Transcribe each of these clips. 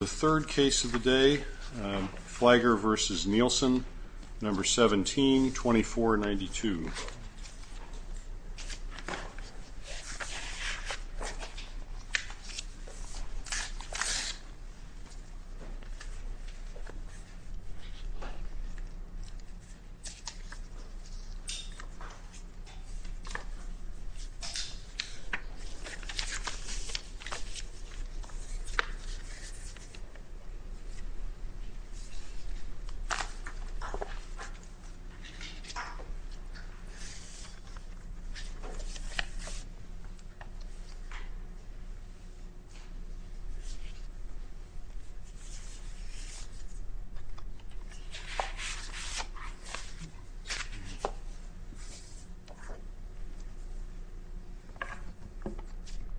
The third case of the day, Fliger v. Nielsen, number 17-2492.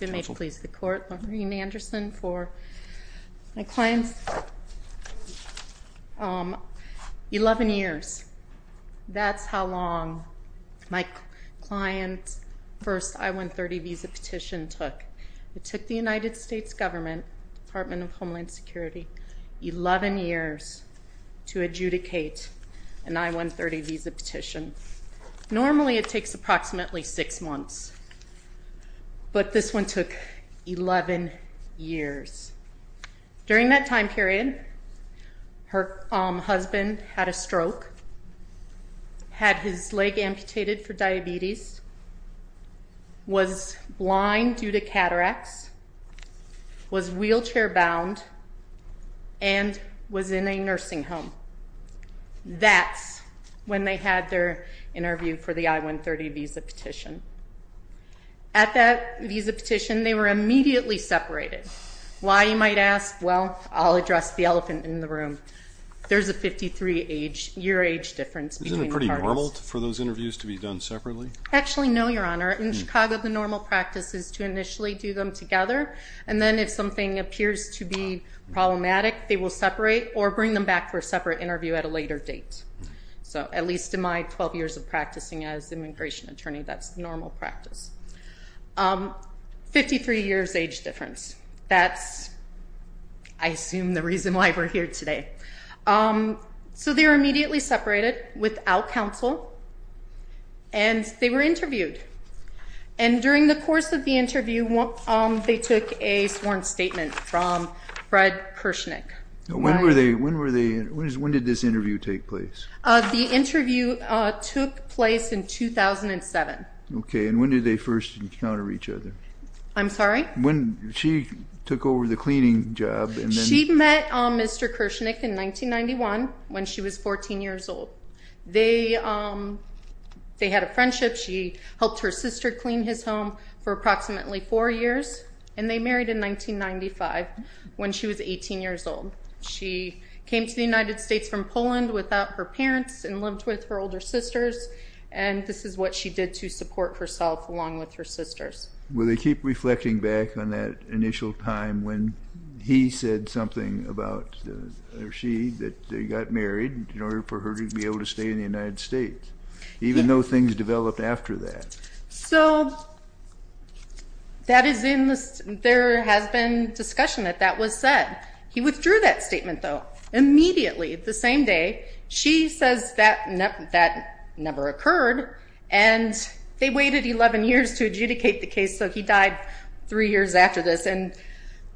You may please the court. I'm going to start with my client, Maureen Anderson, for my client's 11 years. That's how long my client's first I-130 visa petition took. It took the United States government, Department of Homeland Security, 11 years to adjudicate an I-130 visa petition. Normally, it takes approximately six months, but this one took 11 years. During that time period, her husband had a stroke, had his leg amputated for diabetes, was blind due to cataracts, was wheelchair-bound, and was in a nursing home. That's when they had their interview for the I-130 visa petition. At that visa petition, they were immediately separated. Why you might ask? Well, I'll address the elephant in the room. There's a 53-year age difference between the parties. Isn't it pretty normal for those interviews to be done separately? Actually, no, Your Honor. In Chicago, the normal practice is to initially do them together, and then if something appears to be problematic, they will separate or bring them back for a separate interview at a later date. At least in my 12 years of practicing as immigration attorney, that's the normal practice. Fifty-three years age difference, that's, I assume, the reason why we're here today. They were immediately separated without counsel, and they were interviewed. And during the course of the interview, they took a sworn statement from Fred Kirshnick. When did this interview take place? The interview took place in 2007. Okay, and when did they first encounter each other? I'm sorry? When she took over the cleaning job and then— She met Mr. Kirshnick in 1991, when she was 14 years old. They had a friendship. She helped her sister clean his home for approximately four years, and they married in 1995, when she was 18 years old. She came to the United States from Poland without her parents and lived with her older sisters, and this is what she did to support herself along with her sisters. Will they keep reflecting back on that initial time when he said something about—or she—that they got married in order for her to be able to stay in the United States, even though things developed after that? So that is in the—there has been discussion that that was said. He withdrew that statement, though, immediately, the same day. She says that never occurred, and they waited 11 years to adjudicate the case, so he died three years after this. And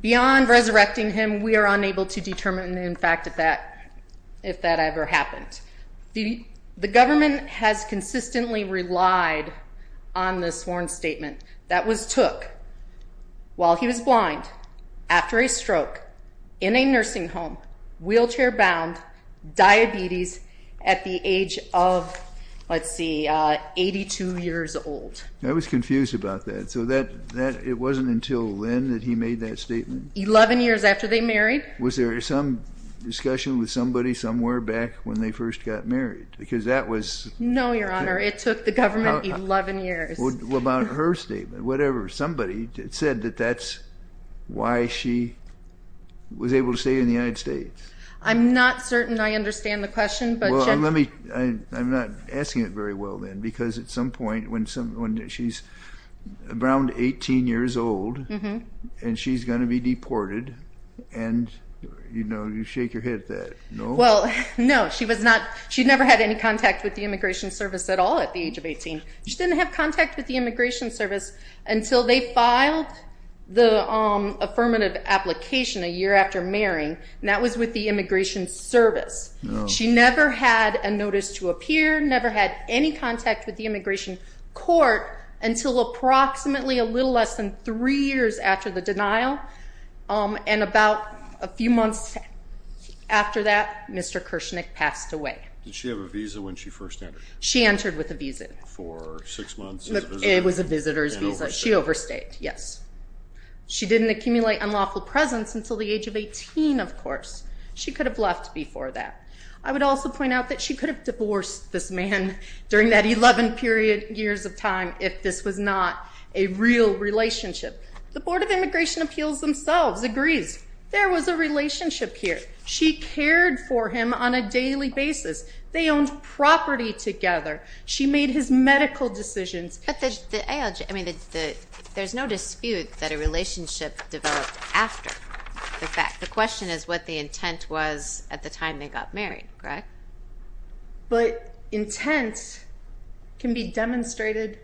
beyond resurrecting him, we are unable to determine, in fact, if that ever happened. The government has consistently relied on the sworn statement that was took while he was blind, after a stroke, in a nursing home, wheelchair-bound, diabetes, at the age of, let's see, 82 years old. I was confused about that. So that—it wasn't until then that he made that statement? 11 years after they married. Was there some discussion with somebody somewhere back when they first got married? Because that was— No, Your Honor. It took the government 11 years. About her statement, whatever, somebody said that that's why she was able to stay in the United States. I'm not certain I understand the question, but— Let me—I'm not asking it very well, then, because at some point, when she's around 18 years old, and she's going to be deported, and, you know, you shake your head at that. No? Well, no, she was not—she never had any contact with the Immigration Service at all at the age of 18. She didn't have contact with the Immigration Service until they filed the affirmative application a year after marrying, and that was with the Immigration Service. Oh. She never had a notice to appear, never had any contact with the Immigration Court until approximately a little less than three years after the denial. And about a few months after that, Mr. Kirshnick passed away. Did she have a visa when she first entered? She entered with a visa. For six months as a visitor? It was a visitor's visa. And overstayed? She overstayed, yes. She didn't accumulate unlawful presence until the age of 18, of course. She could have left before that. I would also point out that she could have divorced this man during that 11-period years of time if this was not a real relationship. The Board of Immigration Appeals themselves agrees. There was a relationship here. She cared for him on a daily basis. They owned property together. She made his medical decisions. But the ALJ—I mean, there's no dispute that a relationship developed after the fact. The question is what the intent was at the time they got married, correct? But intent can be demonstrated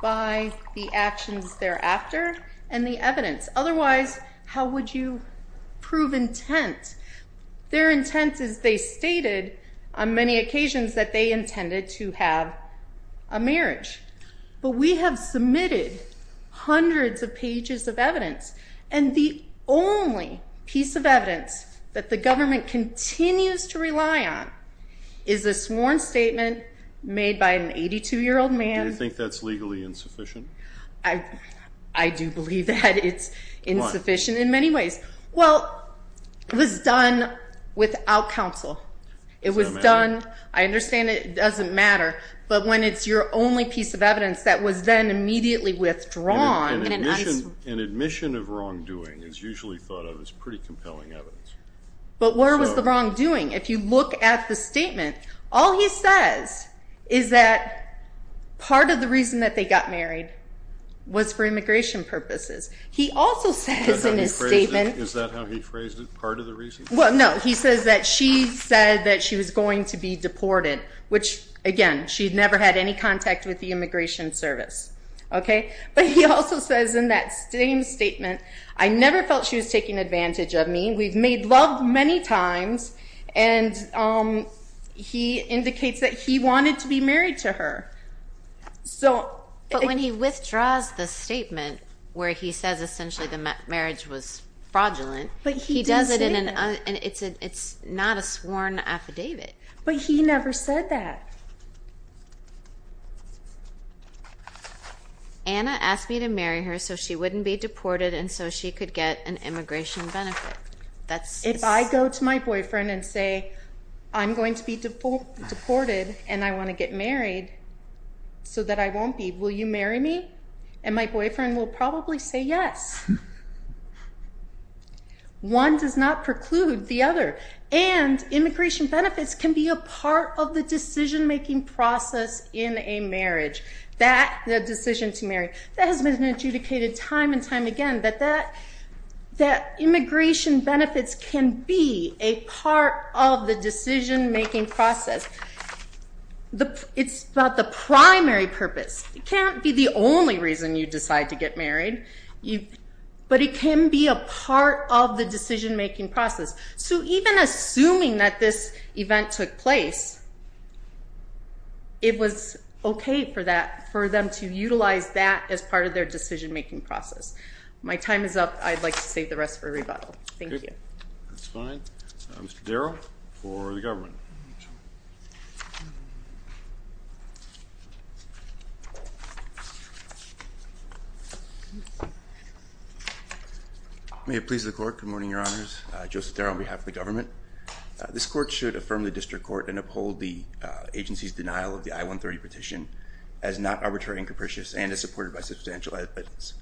by the actions thereafter and the evidence. Otherwise, how would you prove intent? Their intent is, they stated on many occasions, that they intended to have a marriage. But we have submitted hundreds of pages of evidence. And the only piece of evidence that the government continues to rely on is a sworn statement made by an 82-year-old man. Do you think that's legally insufficient? I do believe that it's insufficient in many ways. Well, it was done without counsel. It was done—I understand it doesn't matter. But when it's your only piece of evidence that was then immediately withdrawn— An admission of wrongdoing is usually thought of as pretty compelling evidence. But where was the wrongdoing? If you look at the statement, all he says is that part of the reason that they got married was for immigration purposes. He also says in his statement— Is that how he phrased it? Part of the reason? Well, no. He says that she said that she was going to be deported, which again, she had never had any contact with the immigration service. Okay? But he also says in that same statement, I never felt she was taking advantage of me. We've made love many times. And he indicates that he wanted to be married to her. So— But when he withdraws the statement, where he says essentially the marriage was fraudulent— But he didn't say that. No, and it's not a sworn affidavit. But he never said that. Anna asked me to marry her so she wouldn't be deported and so she could get an immigration benefit. That's— If I go to my boyfriend and say, I'm going to be deported and I want to get married so that I won't be, will you marry me? And my boyfriend will probably say yes. One does not preclude the other. And immigration benefits can be a part of the decision-making process in a marriage. That decision to marry, that has been adjudicated time and time again, that immigration benefits can be a part of the decision-making process. It's about the primary purpose. It can't be the only reason you decide to get married. But it can be a part of the decision-making process. So even assuming that this event took place, it was okay for them to utilize that as part of their decision-making process. My time is up. I'd like to save the rest for rebuttal. Thank you. Okay. That's fine. Mr. Darrell, for the government. May it please the court. Good morning, your honors. Joseph Darrell on behalf of the government. This court should affirm the district court and uphold the agency's denial of the I-130 petition as not arbitrary and capricious and as supported by substantial evidence.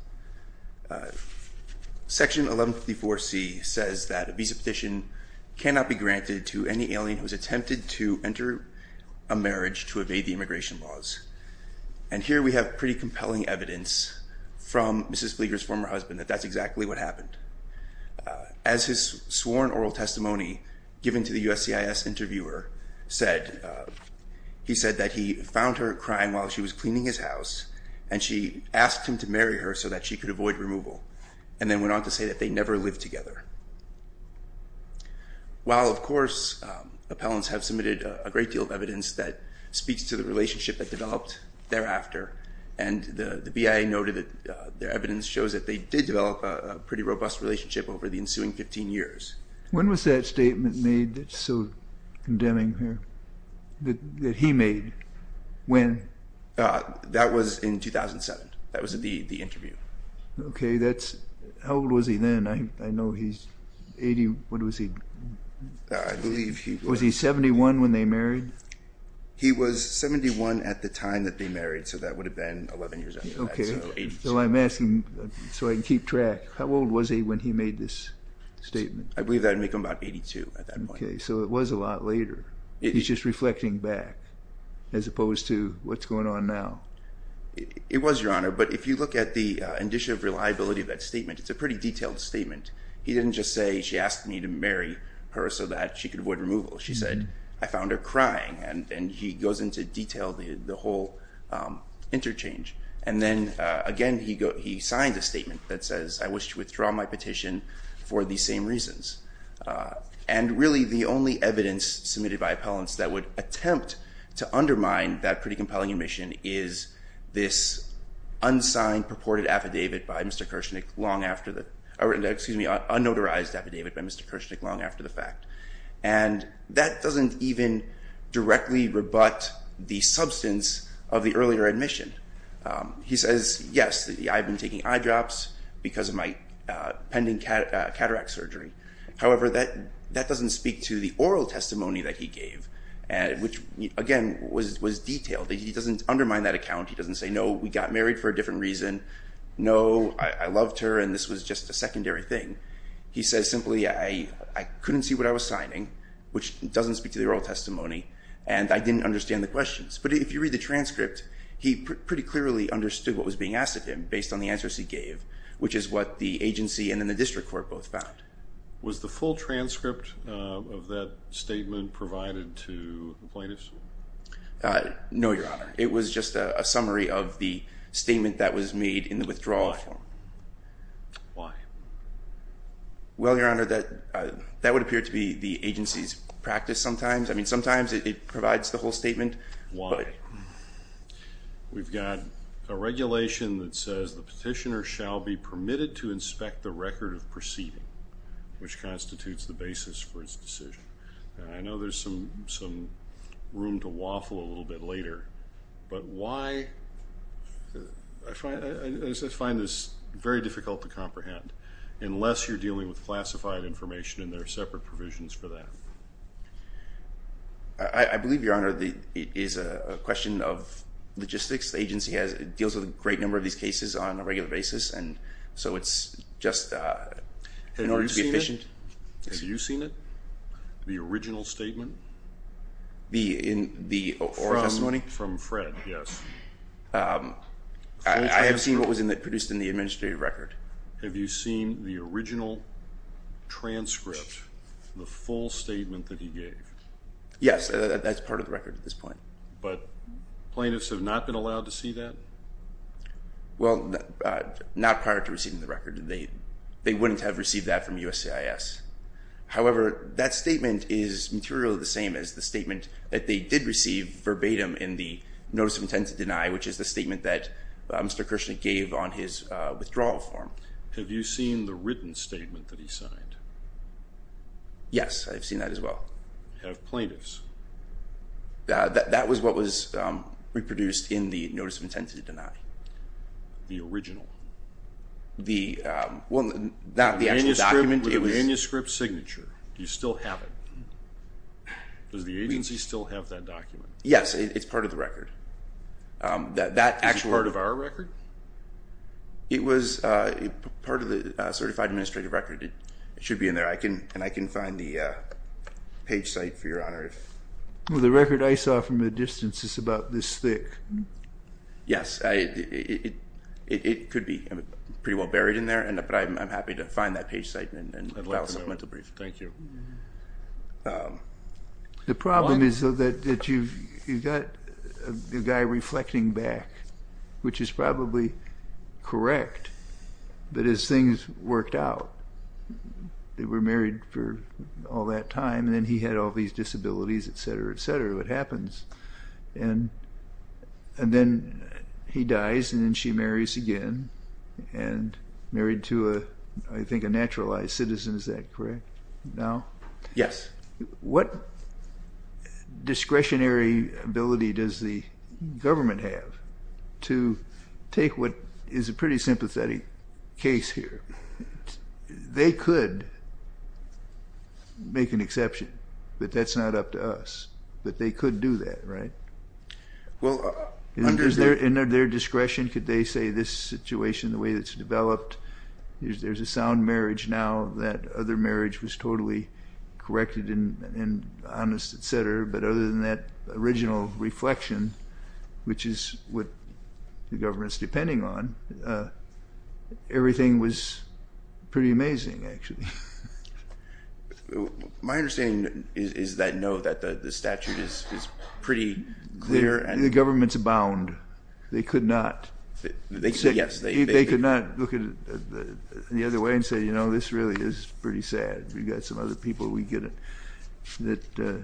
Section 1154C says that a visa petition cannot be granted to any alien who has attempted to enter a marriage to evade the immigration laws. And here we have pretty compelling evidence from Mrs. Flieger's former husband that that's exactly what happened. As his sworn oral testimony given to the USCIS interviewer said, he said that he found her crying while she was cleaning his house, and she asked him to marry her so that she could avoid removal, and then went on to say that they never lived together. While, of course, appellants have submitted a great deal of evidence that speaks to the thereafter, and the BIA noted that their evidence shows that they did develop a pretty robust relationship over the ensuing 15 years. When was that statement made that's so condemning here, that he made? When? That was in 2007. That was the interview. Okay. How old was he then? I know he's 80. What was he? I believe he was. Was he 71 when they married? He was 71 at the time that they married, so that would have been 11 years after that. Okay. So I'm asking so I can keep track. How old was he when he made this statement? I believe that would make him about 82 at that point. Okay. So it was a lot later. He's just reflecting back as opposed to what's going on now. It was, Your Honor, but if you look at the indicia of reliability of that statement, it's a pretty detailed statement. He didn't just say, she asked me to marry her so that she could avoid removal. She said, I found her crying, and he goes into detail the whole interchange. And then, again, he signed a statement that says, I wish to withdraw my petition for these same reasons. And really the only evidence submitted by appellants that would attempt to undermine that pretty compelling admission is this unsigned purported affidavit by Mr. Kershnick long after the – or excuse me, unnotarized affidavit by Mr. Kershnick long after the fact. And that doesn't even directly rebut the substance of the earlier admission. He says, yes, I've been taking eye drops because of my pending cataract surgery. However, that doesn't speak to the oral testimony that he gave, which, again, was detailed. He doesn't undermine that account. He doesn't say, no, we got married for a different reason. No, I loved her, and this was just a secondary thing. He says simply, I couldn't see what I was signing, which doesn't speak to the oral testimony, and I didn't understand the questions. But if you read the transcript, he pretty clearly understood what was being asked of him based on the answers he gave, which is what the agency and then the district court both found. Was the full transcript of that statement provided to the plaintiffs? No, Your Honor. It was just a summary of the statement that was made in the withdrawal form. Why? Well, Your Honor, that would appear to be the agency's practice sometimes. I mean, sometimes it provides the whole statement. Why? We've got a regulation that says the petitioner shall be permitted to inspect the record of proceeding, which constitutes the basis for his decision. I know there's some room to waffle a little bit later, but why? I find this very difficult to comprehend, unless you're dealing with classified information and there are separate provisions for that. I believe, Your Honor, it is a question of logistics. The agency deals with a great number of these cases on a regular basis, and so it's just in order to be efficient. Have you seen it, the original statement? The oral testimony? From Fred, yes. I have seen what was produced in the administrative record. Have you seen the original transcript, the full statement that he gave? Yes, that's part of the record at this point. But plaintiffs have not been allowed to see that? Well, not prior to receiving the record. They wouldn't have received that from USCIS. However, that statement is materially the same as the statement that they did receive verbatim in the Notice of Intent to Deny, which is the statement that Mr. Krishnick gave on his withdrawal form. Have you seen the written statement that he signed? Yes, I've seen that as well. Have plaintiffs? That was what was reproduced in the Notice of Intent to Deny. The original? Well, not the actual document. The manuscript signature, do you still have it? Does the agency still have that document? Yes, it's part of the record. Is it part of our record? It was part of the certified administrative record. It should be in there, and I can find the page site for Your Honor. Well, the record I saw from a distance is about this thick. Yes, it could be pretty well buried in there, but I'm happy to find that page site and file a supplemental brief. Thank you. The problem is that you've got the guy reflecting back, which is probably correct, but his things worked out. They were married for all that time, and then he had all these disabilities, et cetera, et cetera. And then he dies, and then she marries again, and married to, I think, a naturalized citizen. Is that correct now? Yes. What discretionary ability does the government have to take what is a pretty sympathetic case here? They could make an exception, but that's not up to us. But they could do that, right? Under their discretion, could they say this situation, the way it's developed, there's a sound marriage now, that other marriage was totally corrected and honest, et cetera, but other than that original reflection, which is what the government's depending on, everything was pretty amazing, actually. My understanding is that no, that the statute is pretty clear. The governments abound. They could not look at it the other way and say, you know, this really is pretty sad. We've got some other people that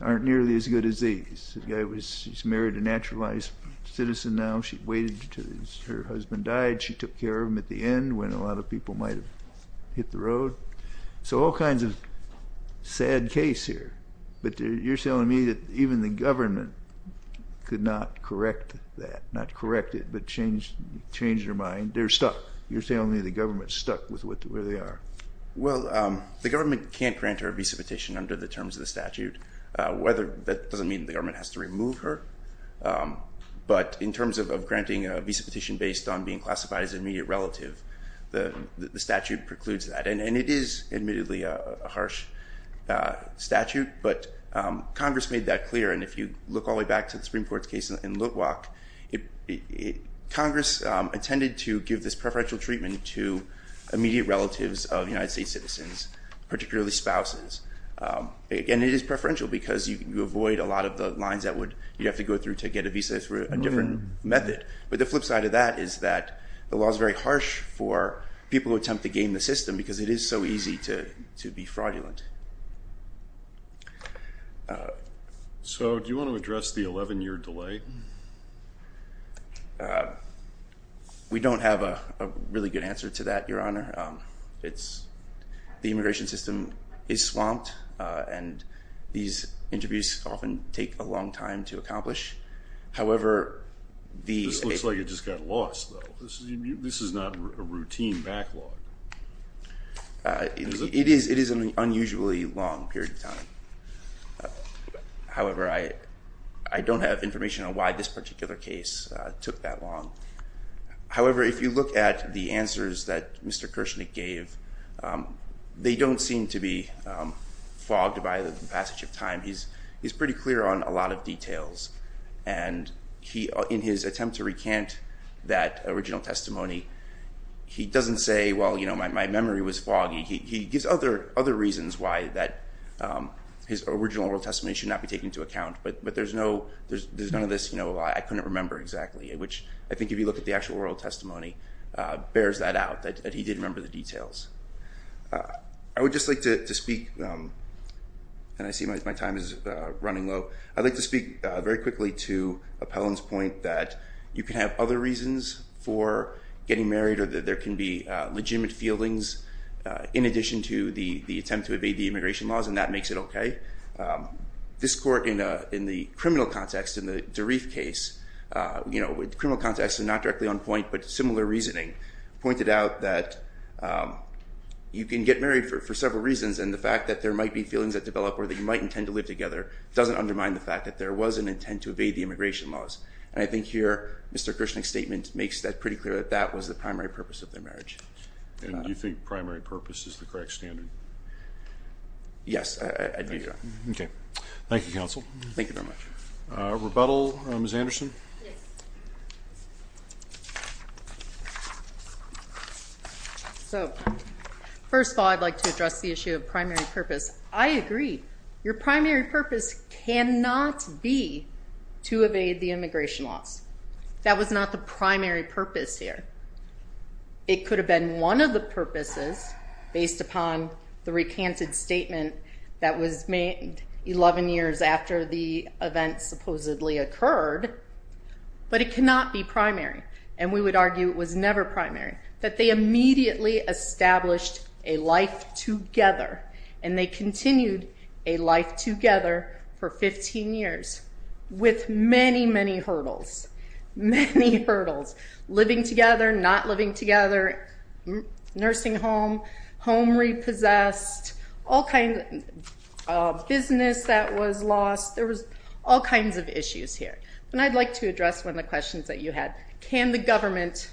aren't nearly as good as these. She's married a naturalized citizen now. She waited until her husband died. She took care of him at the end when a lot of people might have hit the road. So all kinds of sad case here. But you're telling me that even the government could not correct that, not correct it, but change their mind. They're stuck. You're telling me the government's stuck with where they are. Well, the government can't grant her a visa petition under the terms of the statute. That doesn't mean the government has to remove her. But in terms of granting a visa petition based on being classified as an immediate relative, the statute precludes that. And it is admittedly a harsh statute, but Congress made that clear. And if you look all the way back to the Supreme Court's case in Litwack, Congress intended to give this preferential treatment to immediate relatives of United States citizens, particularly spouses. And it is preferential because you avoid a lot of the lines that you'd have to go through to get a visa through a different method. But the flip side of that is that the law is very harsh for people who attempt to game the system because it is so easy to be fraudulent. So do you want to address the 11-year delay? We don't have a really good answer to that, Your Honor. The immigration system is swamped, and these interviews often take a long time to accomplish. However, the- This looks like it just got lost, though. This is not a routine backlog. It is an unusually long period of time. However, I don't have information on why this particular case took that long. However, if you look at the answers that Mr. Kirshnick gave, they don't seem to be fogged by the passage of time. He's pretty clear on a lot of details. And in his attempt to recant that original testimony, he doesn't say, well, you know, my memory was foggy. He gives other reasons why that his original oral testimony should not be taken into account. But there's none of this, you know, I couldn't remember exactly, which I think if you look at the actual oral testimony, bears that out, that he didn't remember the details. I would just like to speak, and I see my time is running low. I'd like to speak very quickly to Appellant's point that you can have other reasons for getting married or that there can be legitimate feelings in addition to the attempt to evade the immigration laws, and that makes it okay. This court in the criminal context, in the DeReef case, you know, with criminal context and not directly on point, but similar reasoning, pointed out that you can get married for several reasons, and the fact that there might be feelings that develop or that you might intend to live together doesn't undermine the fact that there was an intent to evade the immigration laws. And I think here Mr. Kirshnick's statement makes that pretty clear that that was the primary purpose of their marriage. And do you think primary purpose is the correct standard? Yes, I do. Okay. Thank you, Counsel. Thank you very much. Rebuttal, Ms. Anderson? Yes. So, first of all, I'd like to address the issue of primary purpose. I agree. Your primary purpose cannot be to evade the immigration laws. That was not the primary purpose here. It could have been one of the purposes, based upon the recanted statement that was made 11 years after the event supposedly occurred, but it cannot be primary. And we would argue it was never primary. That they immediately established a life together, and they continued a life together for 15 years with many, many hurdles. Many hurdles. Living together, not living together, nursing home, home repossessed, all kinds of business that was lost. There was all kinds of issues here. And I'd like to address one of the questions that you had. Can the government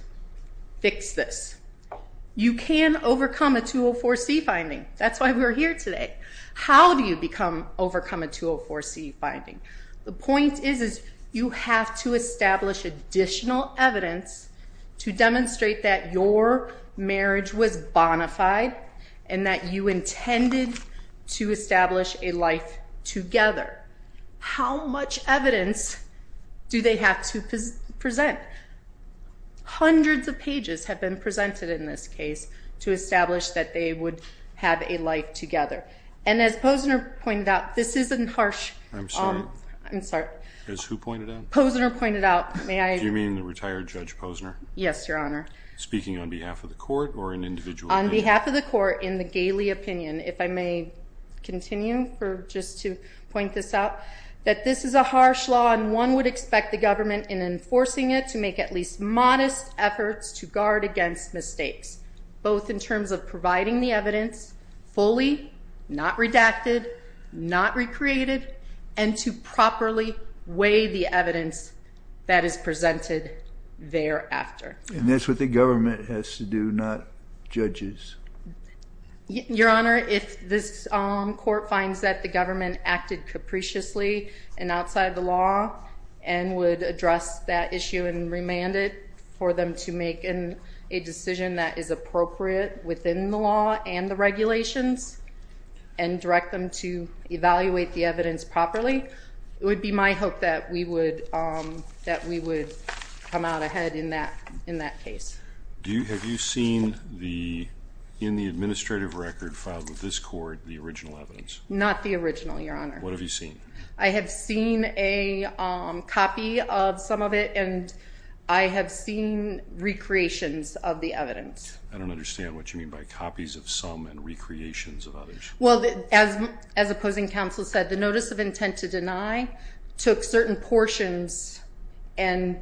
fix this? You can overcome a 204C finding. That's why we're here today. How do you overcome a 204C finding? The point is you have to establish additional evidence to demonstrate that your marriage was bona fide and that you intended to establish a life together. How much evidence do they have to present? Hundreds of pages have been presented in this case to establish that they would have a life together. And as Posner pointed out, this isn't harsh. I'm sorry. I'm sorry. As who pointed out? Posner pointed out. Do you mean the retired Judge Posner? Yes, Your Honor. Speaking on behalf of the court or an individual? On behalf of the court, in the Galey opinion, if I may continue for just to point this out, that this is a harsh law, and one would expect the government in enforcing it to make at least modest efforts to guard against mistakes, both in terms of providing the evidence fully, not redacted, not recreated, and to properly weigh the evidence that is presented thereafter. And that's what the government has to do, not judges. Your Honor, if this court finds that the government acted capriciously and outside the law and would address that issue and remand it for them to make a decision that is appropriate within the law and the regulations and direct them to evaluate the evidence properly, it would be my hope that we would come out ahead in that case. Have you seen in the administrative record filed with this court the original evidence? Not the original, Your Honor. What have you seen? I have seen a copy of some of it, and I have seen recreations of the evidence. I don't understand what you mean by copies of some and recreations of others. Well, as opposing counsel said, the notice of intent to deny took certain portions and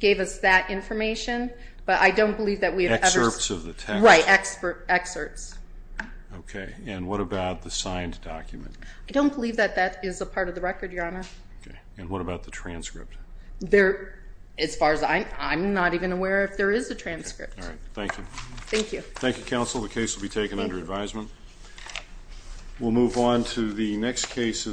gave us that information, but I don't believe that we have ever seen it. Excerpts of the text? Right, excerpts. Okay. And what about the signed document? I don't believe that that is a part of the record, Your Honor. Okay. And what about the transcript? As far as I'm not even aware if there is a transcript. All right. Thank you. Thank you. Thank you, counsel. The case will be taken under advisement. We'll move on to the next case of the day.